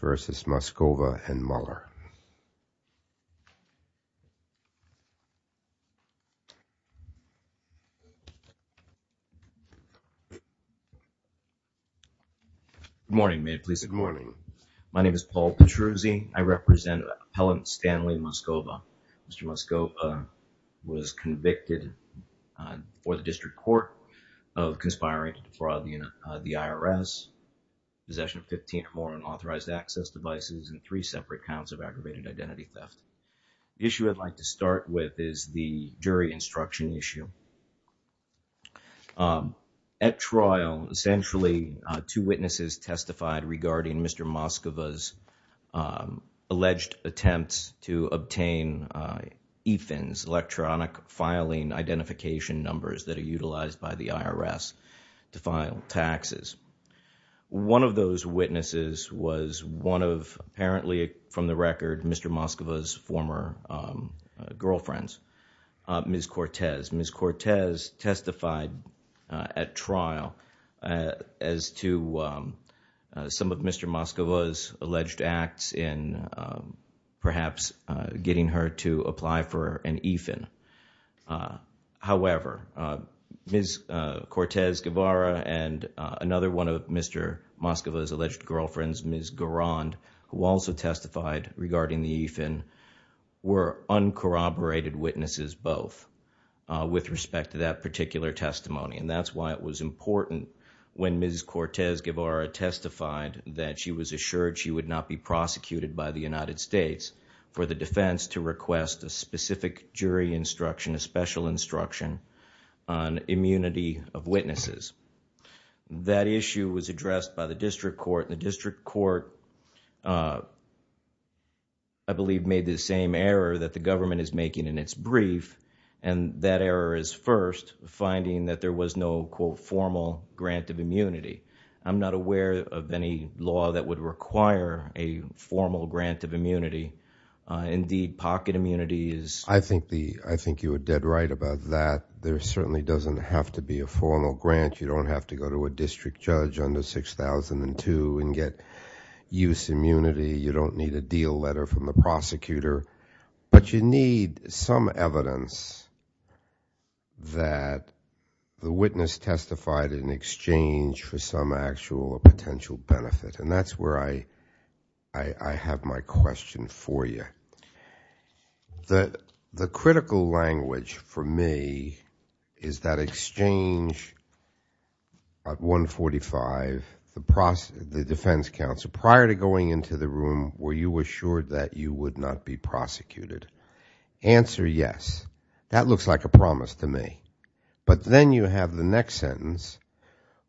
vs. Moscova and Mueller. Good morning. My name is Paul Petruzzi. I represent Appellant Stanley Moscova. Mr. Moscova was convicted for the District Court of conspiring to defraud the IRS, possession of 15 or more unauthorized access devices, and three separate counts of aggravated identity theft. The issue I'd like to start with is the jury instruction issue. At trial, essentially, two witnesses testified regarding Mr. Moscova's alleged attempts to obtain EFINs, electronic filing identification numbers that are utilized by the IRS to file taxes. One of those witnesses was one of, apparently from the record, Mr. Moscova's former girlfriends, Ms. Cortez. Ms. Cortez testified at trial as to some of Mr. Cortez-Guevara and another one of Mr. Moscova's alleged girlfriends, Ms. Garand, who also testified regarding the EFIN, were uncorroborated witnesses both with respect to that particular testimony. That's why it was important when Ms. Cortez-Guevara testified that she was assured she would not be prosecuted by the United States for the defense to request a specific jury instruction, a special instruction, on immunity of witnesses. That issue was addressed by the district court. The district court, I believe, made the same error that the government is making in its brief, and that error is first, finding that there was no, quote, formal grant of immunity. I'm not aware of any law that would require a formal grant of immunity. Indeed, pocket immunity is, I think you are dead right about that. There certainly doesn't have to be a formal grant. You don't have to go to a district judge under 6002 and get use immunity. You don't need a deal letter from the prosecutor, but you need some evidence that the witness testified in exchange for some potential benefit. That's where I have my question for you. The critical language for me is that exchange at 145, the defense counsel, prior to going into the room, were you assured that you would not be prosecuted? Answer, yes. That looks like a promise to me. But then you have the next sentence.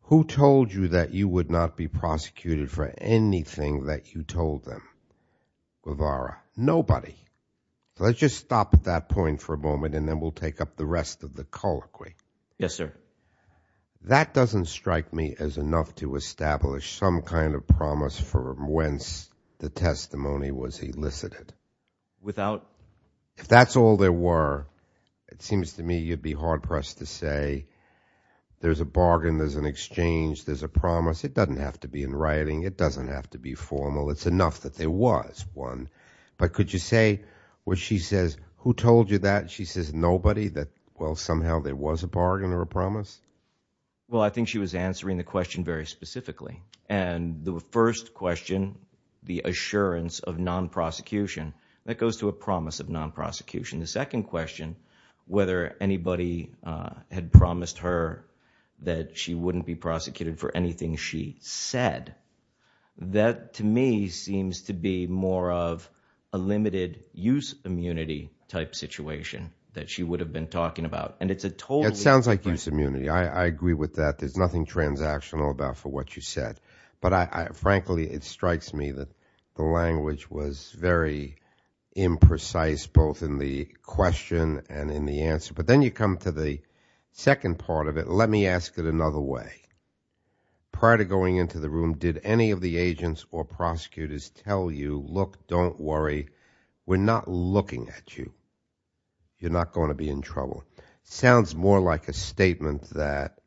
Who told you that you would not be prosecuted for anything that you told them? Guevara. Nobody. Let's just stop at that point for a moment, and then we'll take up the rest of the colloquy. Yes, sir. That doesn't strike me as enough to establish some kind of promise for whence the testimony was elicited. Without? If that's all there were, it seems to me you'd be hard pressed to say there's a bargain, there's an exchange, there's a promise. It doesn't have to be in writing. It doesn't have to be formal. It's enough that there was one. But could you say what she says, who told you that? She says nobody, that, well, somehow there was a bargain or a promise? Well, I think she was answering the question very specifically. And the first question, the assurance of non-prosecution, that goes to a promise of non-prosecution. The second question, whether anybody had promised her that she wouldn't be prosecuted for anything she said, that to me seems to be more of a limited use immunity type situation that she would have been talking about. And it's a totally different question. It sounds like use immunity. I agree with that. There's nothing transactional about what you said. But frankly, it strikes me that the language was very imprecise both in the question and in the answer. But then you come to the second part of it. Let me ask it another way. Prior to going into the room, did any of the agents or prosecutors tell you, look, don't worry, we're not looking at you. You're not going to be in trouble. Sounds more like a statement that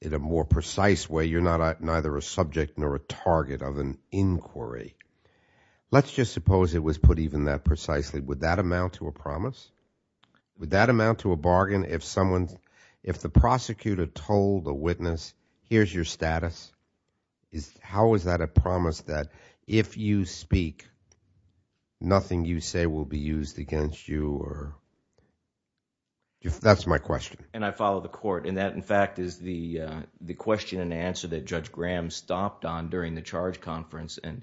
in a more precise way, you're neither a subject nor a target of an inquiry. Let's just suppose it was put even that precisely. Would that amount to a promise? Would that amount to a bargain if someone, if the prosecutor told the witness, here's your status? How is that a promise that if you speak, nothing you say will be used against you? That's my question. And I follow the court. And that, in fact, is the question and answer that Judge Graham stopped on during the charge conference. And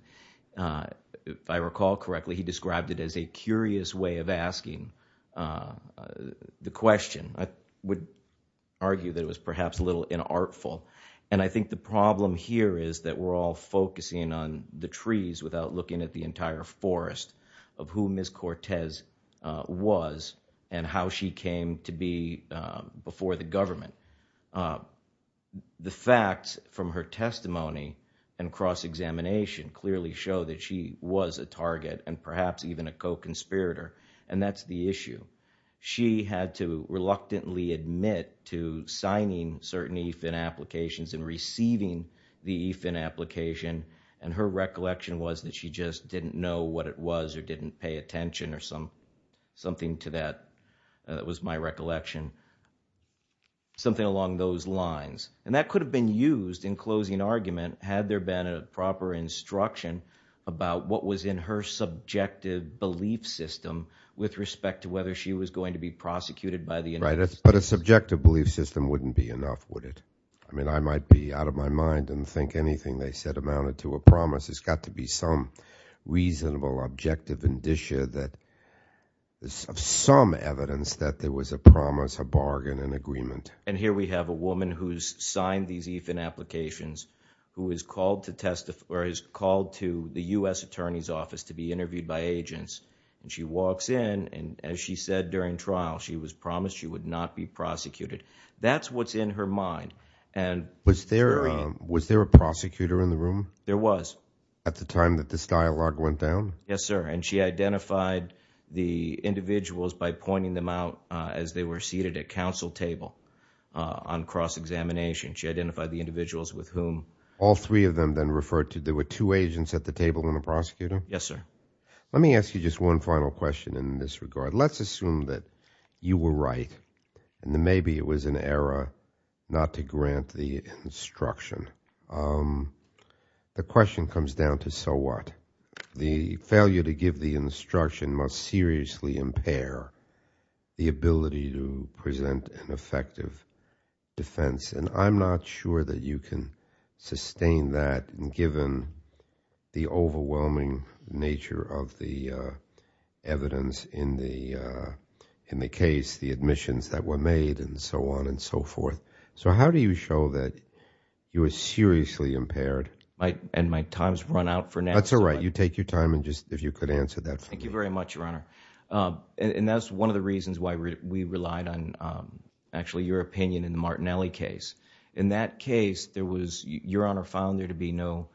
if I recall correctly, he described it as a curious way of asking the question. I would argue that it was perhaps a little inartful. And I think the problem here is that we're all focusing on the trees without looking at the entire forest of who Ms. Cortez was and how she came to be before the government. The facts from her testimony and cross-examination clearly show that she was a target and perhaps even a co-conspirator. And that's the issue. She had to reluctantly admit to signing certain EFIN applications and receiving the EFIN application. And her recollection was that she just didn't know what it was or didn't pay attention or something to that. That was my recollection. Something along those lines. And that could have been used in closing argument had there been a proper instruction about what was in her subjective belief system with respect to whether she was going to be prosecuted by the United States. Right. But a subjective belief system wouldn't be enough, would it? I mean, I might be out of my mind and think anything they said amounted to a promise. It's got to be some objective indicia that is of some evidence that there was a promise, a bargain, an agreement. And here we have a woman who's signed these EFIN applications who is called to testify or is called to the U.S. Attorney's Office to be interviewed by agents. And she walks in and as she said during trial, she was promised she would not be prosecuted. That's what's in her mind. And was there a prosecutor in the room? There was. At the time that this dialogue went down? Yes, sir. And she identified the individuals by pointing them out as they were seated at counsel table on cross-examination. She identified the individuals with whom. All three of them then referred to there were two agents at the table and a prosecutor? Yes, sir. Let me ask you just one final question in this regard. Let's assume that you were right and maybe it was an error not to grant the instruction. The question comes down to so what? The failure to give the instruction must seriously impair the ability to present an effective defense. And I'm not sure that you can sustain that given the overwhelming nature of the evidence in the case, the admissions that were made and so on and so forth. So how do you show that you were seriously impaired? And my time's run out for now. That's all right. You take your time and just if you could answer that for me. Thank you very much, Your Honor. And that's one of the reasons why we relied on actually your opinion in the Martinelli case. In that case, there was, Your Honor, found there to be no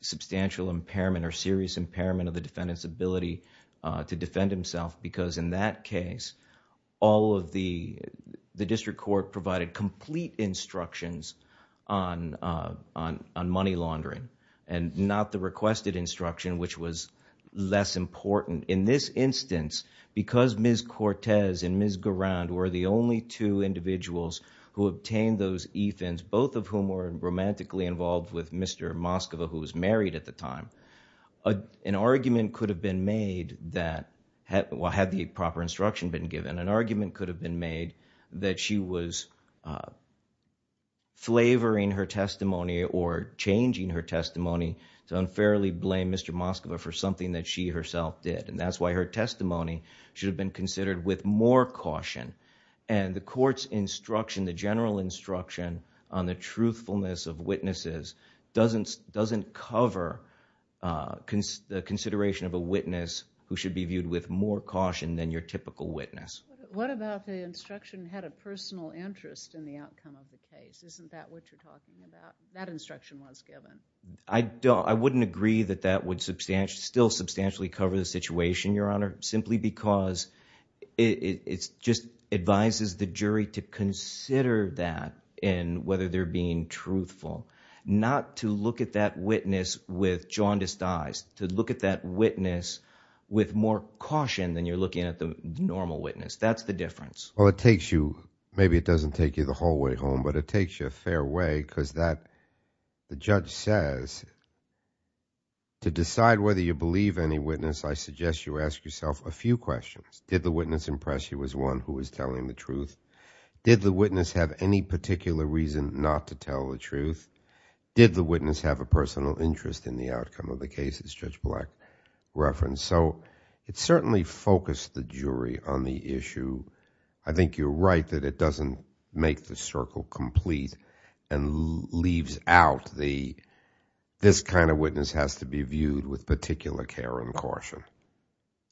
substantial impairment or serious impairment of the defendant's ability to defend himself because in that case, all of the district court provided complete instructions on money laundering and not the requested instruction which was less important. In this instance, because Ms. Cortez and Ms. Garand were the only two individuals who obtained those ethans, both of whom were romantically involved with Mr. Moscova who was married at the time, an argument could have been made that, well, had the proper instruction been given, an argument could have been made that she was flavoring her testimony or changing her testimony to unfairly blame Mr. Moscova for something that she herself did. And that's why her testimony should have been considered with more caution. And the court's instruction, the general instruction on the truthfulness of witnesses doesn't cover the consideration of a witness who should be viewed with more caution than your typical witness. What about the instruction had a personal interest in the outcome of the case? Isn't that what you're talking about? That instruction was given. I wouldn't agree that that would still substantially cover the situation, Your Honor, simply because it just advises the jury to consider that in whether they're being truthful, not to look at that witness with jaundiced eyes, to look at that witness with more caution than you're looking at the normal witness. That's the difference. Well, it takes you, maybe it doesn't take you the whole way home, but it takes you a fair way because the judge says to decide whether you believe any witness, I suggest you ask yourself a few questions. Did the witness impress you as one who was telling the truth? Did the witness have any particular reason not to tell the truth? Did the witness have a personal interest in the outcome of the case, as Judge Black referenced? So it certainly focused the jury on the issue. I think you're right that it doesn't make the circle complete and leaves out the, this kind of witness has to be viewed with particular care and caution,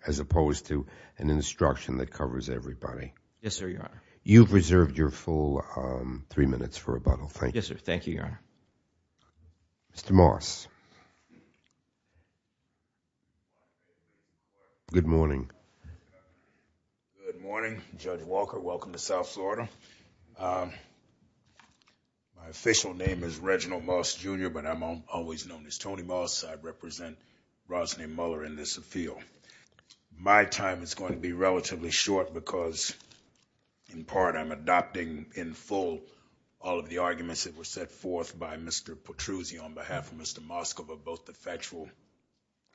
as opposed to an instruction that covers everybody. Yes, sir, Your Honor. You've reserved your full three minutes for rebuttal. Yes, sir. Thank you, Your Honor. Mr. Moss. Good morning. Good morning, Judge Walker. Welcome to South Florida. My official name is Reginald Moss, Jr., but I'm always known as Tony Moss. I represent Roslyn Muller in this field. My time is going to be relatively short because, in part, I'm adopting in full all of the arguments that were set forth by Mr. Petruzzi on behalf of Mr. Moskov of both the factual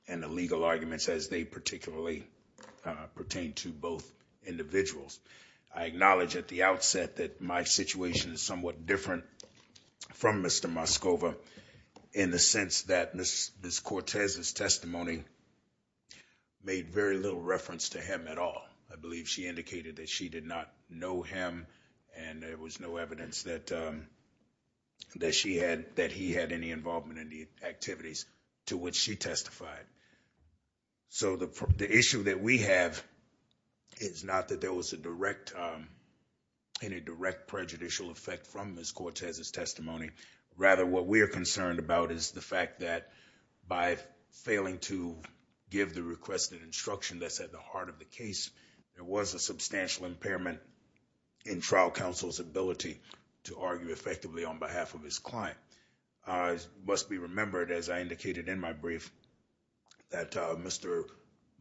and the legal arguments as they particularly pertain to both individuals. I acknowledge at the outset that my situation is somewhat different from Mr. Moskov in the sense that Ms. Cortez's testimony made very little reference to him at all. I believe she indicated that she did not know him and there was no evidence that he had any involvement in the case. I don't believe that there was any direct prejudicial effect from Ms. Cortez's testimony. Rather, what we are concerned about is the fact that by failing to give the requested instruction that's at the heart of the case, there was a substantial impairment in trial counsel's ability to argue effectively on behalf of his client. It must be remembered, as I indicated in my brief, that Mr.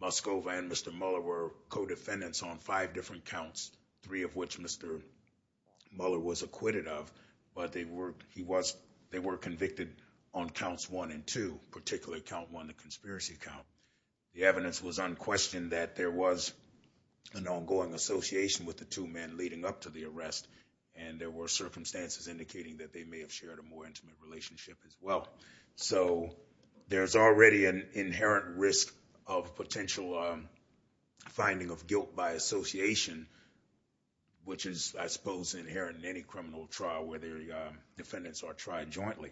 Moskov and Mr. Muller were co-defendants on five different counts, three of which Mr. Muller was acquitted of, but they were convicted on counts one and two, particularly count one, the conspiracy count. The evidence was unquestioned that there was an ongoing association with the two men leading up to the arrest and there were circumstances indicating that they may have shared a more intimate relationship as well. There's already an inherent risk of potential finding of guilt by association, which is, I suppose, inherent in any criminal trial where the defendants are tried jointly.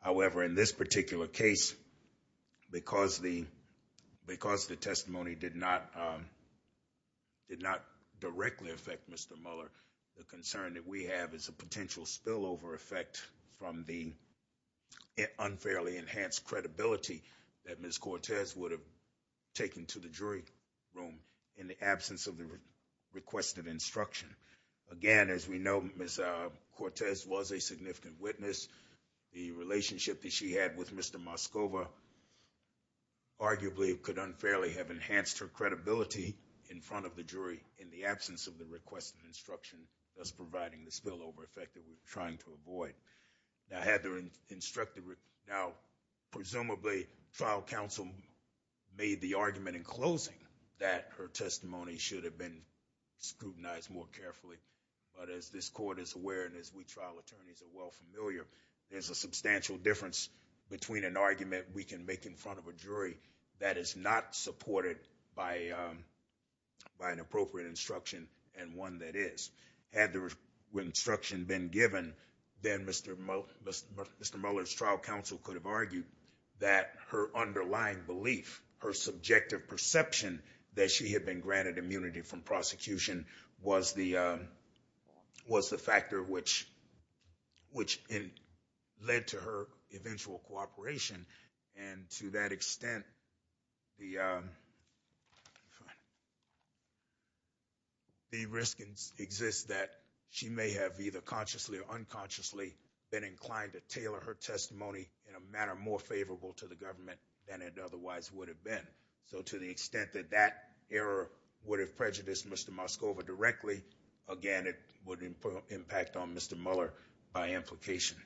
However, in this particular case, because the testimony did not directly affect Mr. Muller, the concern that we have is a potential spillover effect from the unfairly enhanced credibility that Ms. Cortez would have taken to the jury room in the absence of the requested instruction. Again, as we know, Ms. Cortez was a significant witness. The relationship that she had with Mr. Moskov arguably could unfairly have enhanced her credibility in front of the jury in the absence of the requested instruction, thus providing the spillover effect that we were trying to avoid. Now, presumably, trial counsel made the argument in closing that her testimony should have been scrutinized more carefully, but as this court is aware and as we trial attorneys are well familiar, there's a substantial difference between an argument we can make in front of a jury that is not supported by an appropriate instruction and one that is. Had the instruction been given, then Mr. Muller's trial counsel could have argued that her underlying belief, her subjective perception that she had been granted immunity from prosecution was the factor which led to her eventual cooperation. To that extent, the risk exists that she may have either consciously or unconsciously been inclined to tailor her testimony in a manner more favorable to the government than it otherwise would have been. To the extent that that error would have by implication.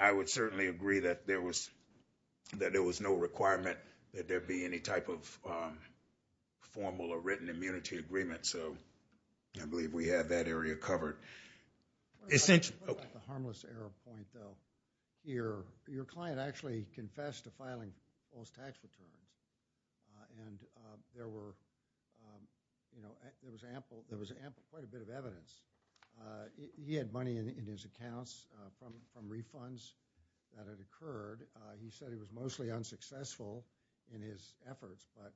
I would certainly agree that there was no requirement that there be any type of formal or written immunity agreement. I believe we have that area covered. Essentially, your client actually confessed to filing those tax returns and there was quite a bit of evidence. He had money in his accounts from refunds that had occurred. He said he was mostly unsuccessful in his efforts, but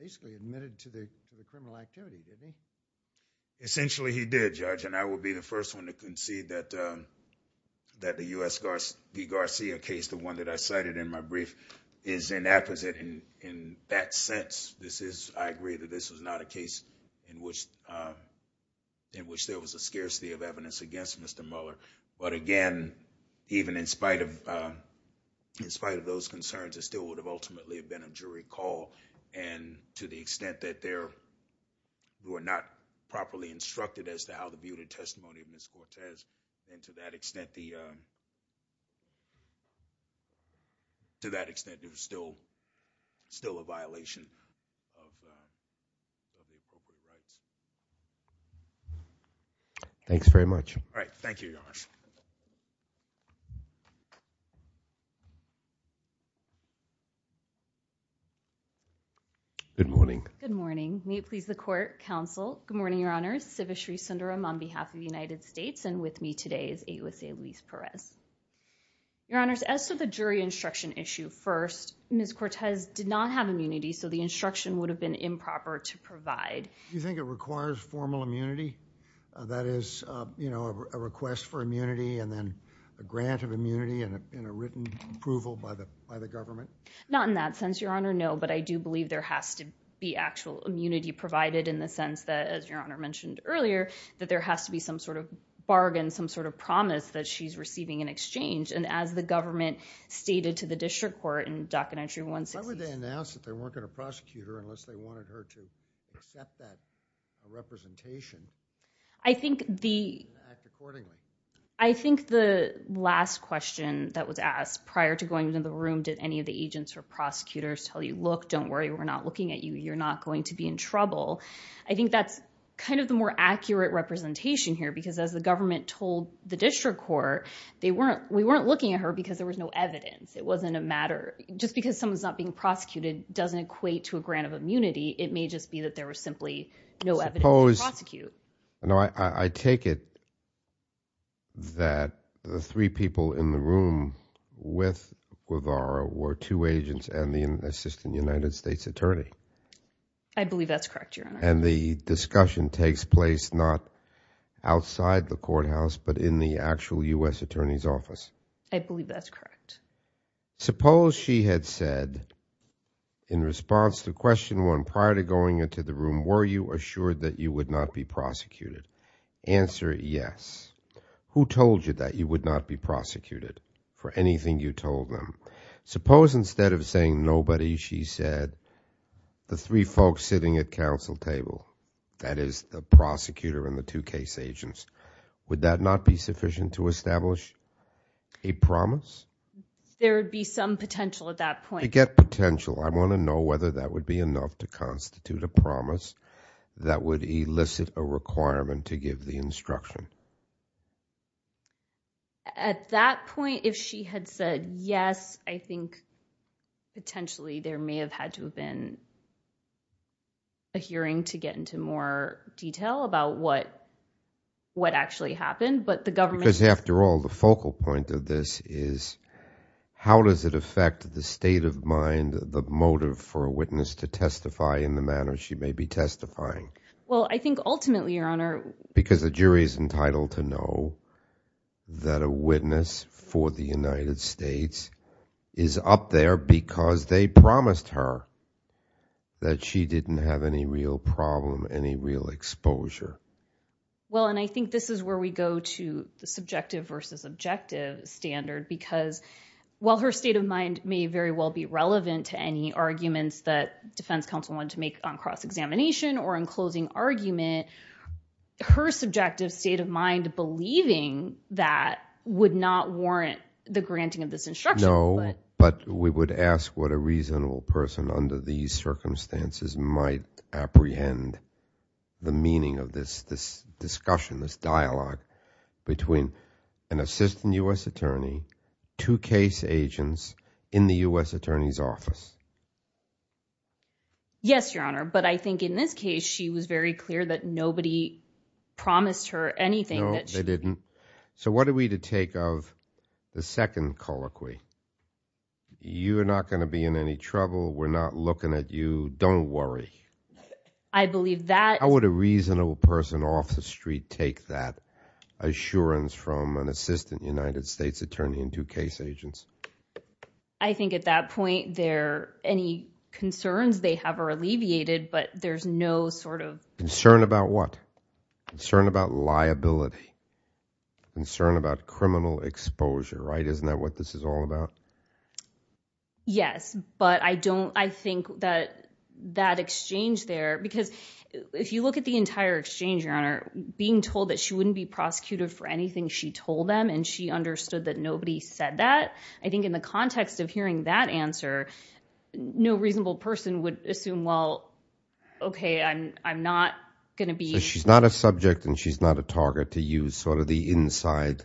basically admitted to the criminal duty. Essentially, he did, Judge. I would be the first one to concede that the U.S. Garcia case, the one that I cited in my brief, is inappropriate in that sense. I agree that this was not a case in which there was a scarcity of evidence against Mr. Muller, but again, even in spite of those concerns, it still would have ultimately been a jury call. To the extent that there were not properly instructed as to how to view the testimony of Ms. Cortez, and to that extent, there was still a violation. All right. Thank you, Your Honor. Good morning. Good morning. May it please the court, counsel. Good morning, Your Honor. Siva Sri Sundaram on behalf of the United States, and with me today is AOC Elise Perez. Your Honor, as to the jury instruction issue first, Ms. Cortez did not have immunity, so the instruction would have been improper to provide. Do you think it requires formal immunity? That is, you know, a request for immunity, and then a grant of immunity, and a written approval by the government? Not in that sense, Your Honor, no, but I do believe there has to be actual immunity provided in the sense that, as Your Honor mentioned earlier, that there has to be some sort of bargain, some sort of promise that she's receiving in exchange, and as the government stated to the district court in Documentary 162. Why would they announce that they weren't going to prosecute her unless they wanted her to accept that representation and act accordingly? I think the last question that was asked prior to going into the room, did any of the agents or prosecutors tell you, look, don't worry, we're not looking at you, you're not going to be in trouble? I think that's kind of the more accurate representation here, because as the government told the district court, they weren't, we weren't looking at her because there was no evidence. It wasn't a matter, just because someone's not being prosecuted doesn't equate to a grant of immunity, it may just be that there was simply no evidence to prosecute. No, I take it that the three people in the room with Guevara were two agents and the assistant United States attorney. I believe that's correct, Your Honor. The discussion takes place not outside the courthouse, but in the actual U.S. attorney's office. I believe that's correct. Suppose she had said in response to question one prior to going into the room, were you assured that you would not be prosecuted? Answer, yes. Who told you that you would not be prosecuted for anything you told them? Suppose instead of saying nobody, she said the three folks sitting at council table, that is the prosecutor and the two case agents, would that not be sufficient to establish a promise? There would be some potential at that point. You get potential. I want to know whether that would be enough to constitute a promise that would elicit a requirement to give the instruction. At that point, if she had said yes, I think potentially there may have had to been a hearing to get into more detail about what actually happened, but the government... Because after all, the focal point of this is how does it affect the state of mind, the motive for a witness to testify in the manner she may be testifying? Well, I think ultimately, Your Honor... Because the jury is entitled to know that a witness for the United States is up there because they promised her that she didn't have any real problem, any real exposure. Well, and I think this is where we go to the subjective versus objective standard because while her state of mind may very well be relevant to any arguments that defense counsel wanted to make on cross-examination or in closing argument, her subjective state of mind believing that would not warrant the granting of this instruction. No, but we would ask what a reasonable person under these circumstances might apprehend the meaning of this discussion, this dialogue between an assistant U.S. attorney, two case agents in the U.S. attorney's office. Yes, Your Honor, but I think in this case, she was very clear that nobody promised her anything. No, they didn't. So what are we to take of the second colloquy? You are not going to be in any trouble. We're not looking at you. Don't worry. I believe that... How would a reasonable person off the street take that assurance from an assistant United States attorney and two case agents? I think at that point there, any concerns they have are alleviated, but there's no sort of... Concern about what? Concern about liability, concern about criminal exposure, right? Isn't that what this is all about? Yes, but I don't, I think that that exchange there, because if you look at the entire exchange, Your Honor, being told that she wouldn't be prosecuted for anything she told them, and she understood that nobody said that, I think in the context of hearing that answer, no reasonable person would assume, well, okay, I'm not going to be... So she's not a subject and she's not a target to use sort of the inside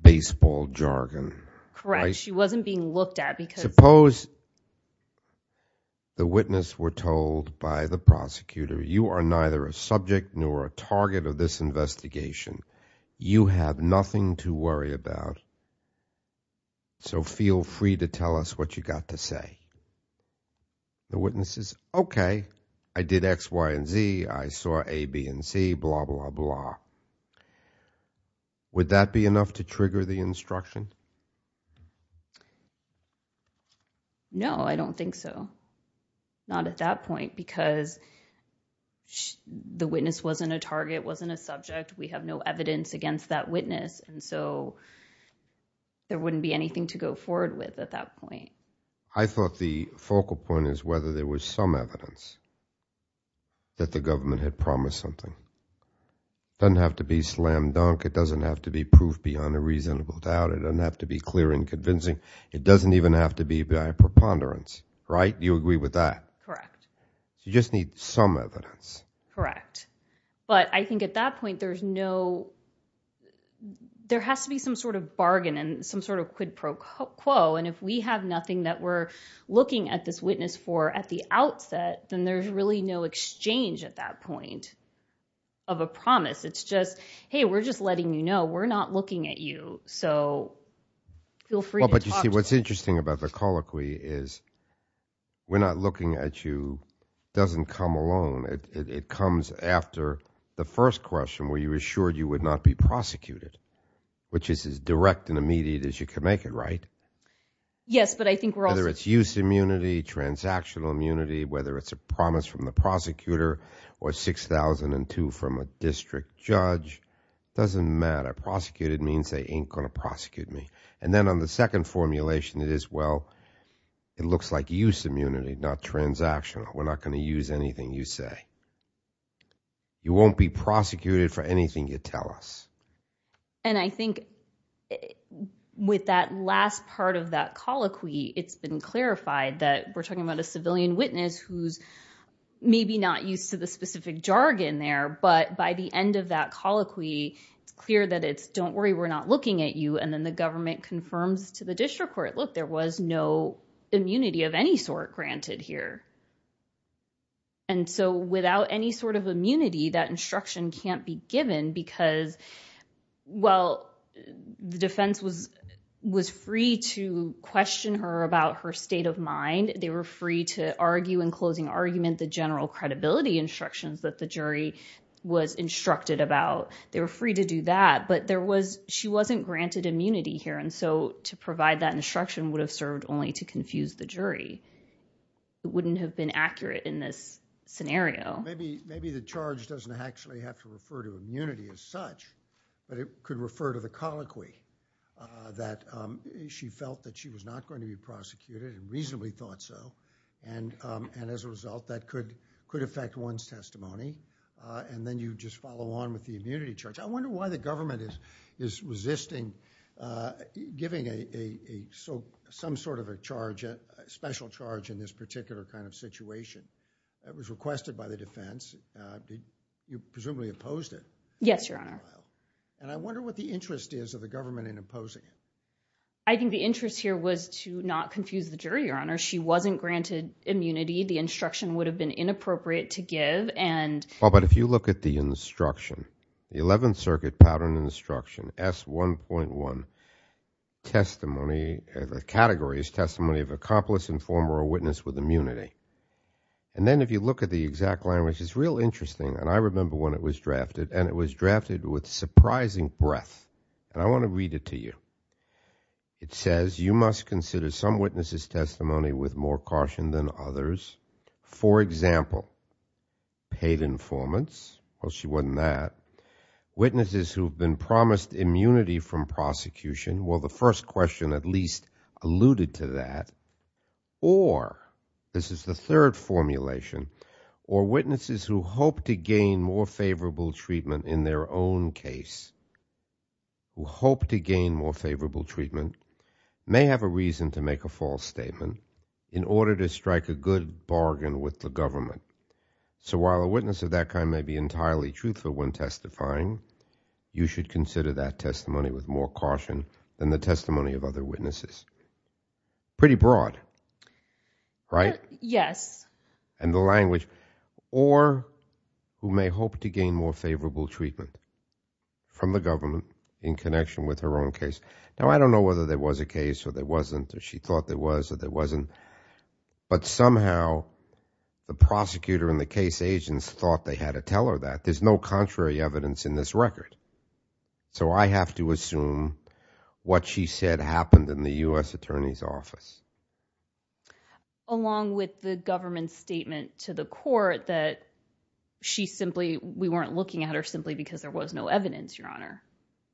baseball jargon. Correct. She wasn't being looked at because... Suppose the witness were told by the prosecutor, you are neither a subject nor a target of this case, so you have nothing to worry about, so feel free to tell us what you got to say. The witness is, okay, I did X, Y, and Z, I saw A, B, and C, blah, blah, blah. Would that be enough to trigger the instruction? No, I don't think so. Not at that point, because the witness wasn't a target, wasn't a subject, we have no evidence against that witness, and so there wouldn't be anything to go forward with at that point. I thought the focal point is whether there was some evidence that the government had promised something. It doesn't have to be slam dunk, it doesn't have to be proof beyond a reasonable doubt, it doesn't have to be clear and convincing, it doesn't even have to be by preponderance, right? Do you agree with that? Correct. So you just need some evidence. Correct. But I think at that point, there has to be some sort of bargain and some sort of quid pro quo, and if we have nothing that we're looking at this witness for at the outset, then there's really no exchange at that point of a promise. It's just, hey, we're just letting you know, we're not looking at you, so feel free to talk to us. Well, but you see, what's interesting about the colloquy is, we're not looking at you doesn't come alone. It comes after the first question where you assured you would not be prosecuted, which is as direct and immediate as you can make it, right? Yes, but I think we're also- Whether it's use immunity, transactional immunity, whether it's a promise from the prosecutor, or 6,002 from a district judge, doesn't matter. Prosecuted means they ain't going to prosecute me. And then on the second formulation, it is, well, it looks like use immunity, not transactional. We're not going to use anything you say. You won't be prosecuted for anything you tell us. And I think with that last part of that colloquy, it's been clarified that we're talking about a civilian witness who's maybe not used to the specific jargon there, but by the end of that argument confirms to the district court, look, there was no immunity of any sort granted here. And so without any sort of immunity, that instruction can't be given because, well, the defense was free to question her about her state of mind. They were free to argue in closing argument the general credibility instructions that the jury was instructed about. They were free to do that, but she wasn't granted immunity here. And so to provide that instruction would have served only to confuse the jury. It wouldn't have been accurate in this scenario. Maybe the charge doesn't actually have to refer to immunity as such, but it could refer to the colloquy that she felt that she was not going to be prosecuted and reasonably thought so. And as a result, that could affect one's testimony. And then you just follow on with the immunity charge. I wonder why the government is resisting giving some sort of a charge, a special charge in this particular kind of situation. It was requested by the defense. You presumably opposed it. Yes, Your Honor. And I wonder what the interest is of the government in opposing it. I think the interest here was to not confuse the jury, Your Honor. She wasn't granted immunity. The instruction would have been inappropriate to give. Well, but if you look at the instruction, the 11th Circuit Pattern Instruction S1.1 testimony, the category is testimony of accomplice, informer or witness with immunity. And then if you look at the exact language, it's real interesting. And I remember when it was drafted and it was drafted with surprising breadth. And I want to read it to you. It says you must consider some witnesses testimony with more caution than others. For example, paid informants. Well, she wasn't that. Witnesses who've been promised immunity from prosecution. Well, the first question at least alluded to that. Or this is the third formulation, or witnesses who hope to gain more favorable treatment in their own case, who hope to gain more favorable treatment may have a reason to make a false statement in order to strike a good bargain with the government. So while a witness of that kind may be entirely truthful when testifying, you should consider that testimony with more caution than the testimony of other witnesses. Pretty broad, right? Yes. And the language or who may hope to gain more favorable treatment from the government in connection with her own case. Now, I don't know whether there was a case or there wasn't, or she thought there was, or there wasn't. But somehow the prosecutor and the case agents thought they had to tell her that. There's no contrary evidence in this record. So I have to assume what she said happened in the U.S. Attorney's office. Along with the government statement to the court that she simply, we weren't looking at her simply because there was no evidence, Your Honor.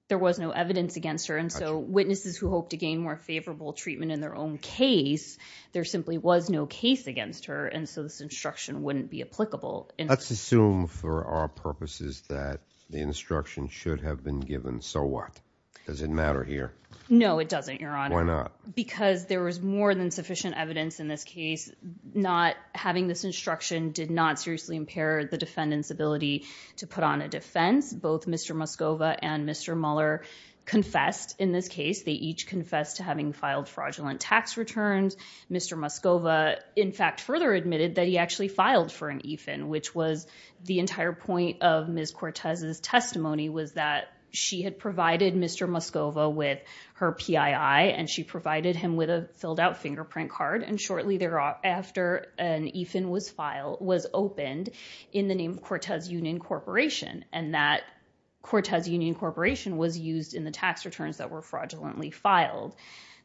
There was no evidence against her. And so witnesses who hope to gain more favorable treatment in their own case, there simply was no case against her. And so this instruction wouldn't be applicable. Let's assume for our purposes that the instruction should have been given. So what? Does it matter here? No, it doesn't, Your Honor. Why not? Because there was more than sufficient evidence in this case. Not having this instruction did not seriously impair the defendant's ability to put on a defense. Both Mr. Muscova and Mr. Connolly confessed in this case. They each confessed to having filed fraudulent tax returns. Mr. Muscova, in fact, further admitted that he actually filed for an EFIN, which was the entire point of Ms. Cortez's testimony was that she had provided Mr. Muscova with her PII and she provided him with a filled out fingerprint card. And shortly thereafter, an EFIN was filed, was opened in the name Cortez Union Corporation, and that Cortez Union Corporation was used in the tax returns that were fraudulently filed.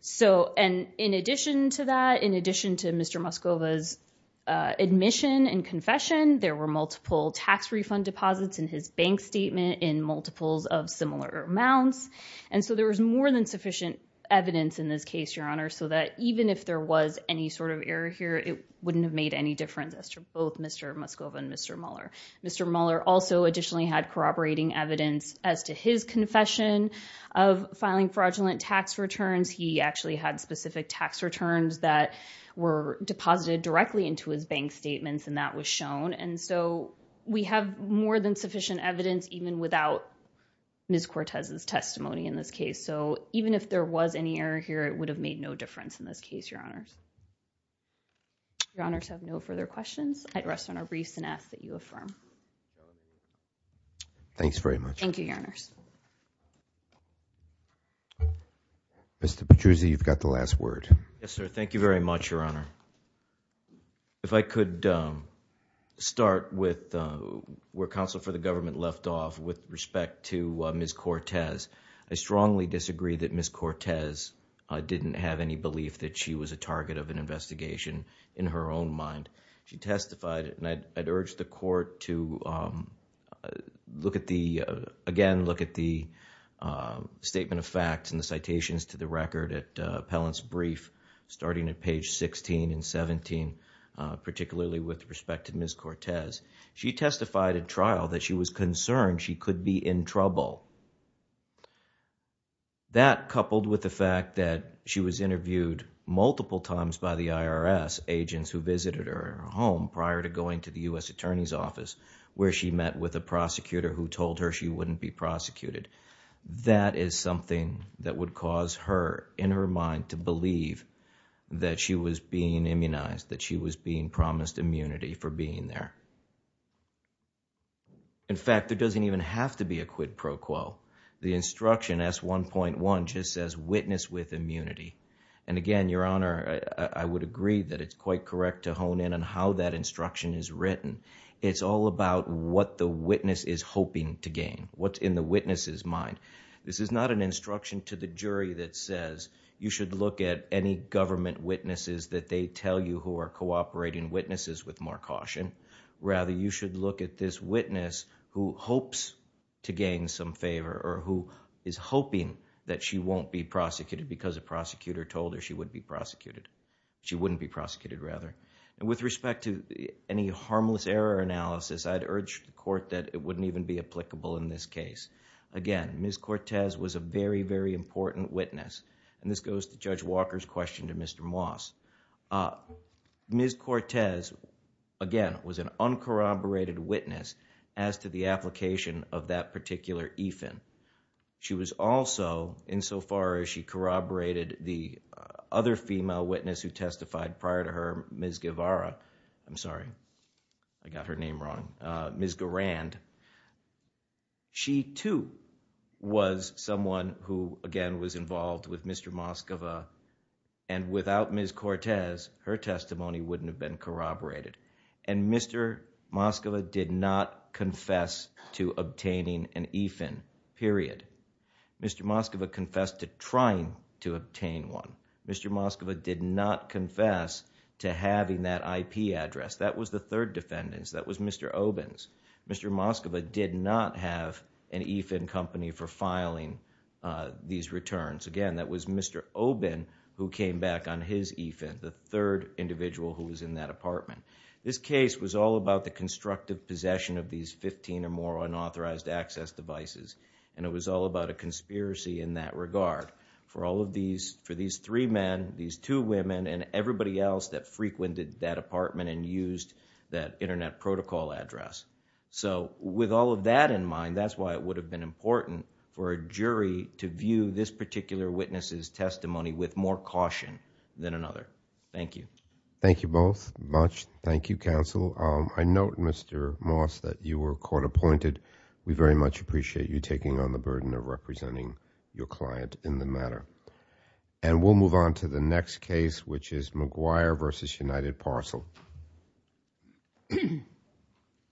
So and in addition to that, in addition to Mr. Muscova's admission and confession, there were multiple tax refund deposits in his bank statement, in multiples of similar amounts. And so there was more than sufficient evidence in this case, Your Honor, so that even if there was any sort of error here, it wouldn't have made any difference to both Mr. Muscova and Mr. Muller. Mr. Muller also additionally had corroborating evidence as to his confession of filing fraudulent tax returns. He actually had specific tax returns that were deposited directly into his bank statements and that was shown. And so we have more than sufficient evidence even without Ms. Cortez's testimony in this case. So even if there was any error here, it would have made no difference in this case, Your Honor. Your Honors, I have no further questions. I'd rest on our briefs and ask that you affirm. Thanks very much. Thank you, Your Honors. Mr. Petruzzi, you've got the last word. Yes, sir. Thank you very much, Your Honor. If I could start with where counsel for the government left off with respect to Ms. Cortez. I strongly disagree that Ms. Cortez didn't have any belief that she was a target of an investigation in her own mind. She testified, and I'd urge the court to look at the, again, look at the statement of facts and the citations to the record at Appellant's brief starting at page 16 and 17, particularly with respect to Ms. Cortez. She testified at trial that she was in trouble. That coupled with the fact that she was interviewed multiple times by the IRS, agents who visited her home prior to going to the U.S. Attorney's Office, where she met with a prosecutor who told her she wouldn't be prosecuted. That is something that would cause her, in her mind, to believe that she was being immunized, that she was being promised immunity for being there. In fact, there doesn't even have to be a quid pro quo. The instruction, S1.1, just says witness with immunity. Again, Your Honor, I would agree that it's quite correct to hone in on how that instruction is written. It's all about what the witness is hoping to gain, what's in the witness's mind. This is not an instruction to the jury that says you should look at any government witnesses that they tell you who are cooperating witnesses with more caution. Rather, you should look at this witness who hopes to gain some favor or who is hoping that she won't be prosecuted because a prosecutor told her she wouldn't be prosecuted. With respect to any harmless error analysis, I'd urge the court that it wouldn't even be applicable in this case. Again, Ms. Cortez was a very, very important witness. This goes to Judge Walker's question to Mr. Moss. Ms. Cortez, again, was an uncorroborated witness as to the application of that particular EFIN. She was also, insofar as she corroborated the other female witness who testified prior to her, Ms. Guevara, I'm sorry, I got her name wrong, Ms. Garand, she too was someone who, again, was involved with Mr. Moscova. Without Ms. Cortez, her testimony wouldn't have been corroborated. Mr. Moscova did not confess to obtaining an EFIN, period. Mr. Moscova confessed to trying to obtain one. Mr. Moscova did not confess to having that IP address. That was the third defendant. That was Mr. Obens. Mr. Moscova did not have an EFIN company for filing these returns. Again, that was Mr. Oben who came back on his EFIN, the third individual who was in that apartment. This case was all about the constructive possession of these fifteen or more unauthorized access devices. It was all about a conspiracy in that regard for all of these, for these three men, these two women, and everybody else that frequented that apartment and used that internet protocol address. With all of that in mind, that's why it would have been important for a jury to view this particular witness's testimony with more caution than another. Thank you. Thank you both much. Thank you, counsel. I note, Mr. Moss, that you were court-appointed. We very much appreciate you taking on the burden of representing your client in the matter. We'll move on to the next case, which is McGuire v. United Parcel.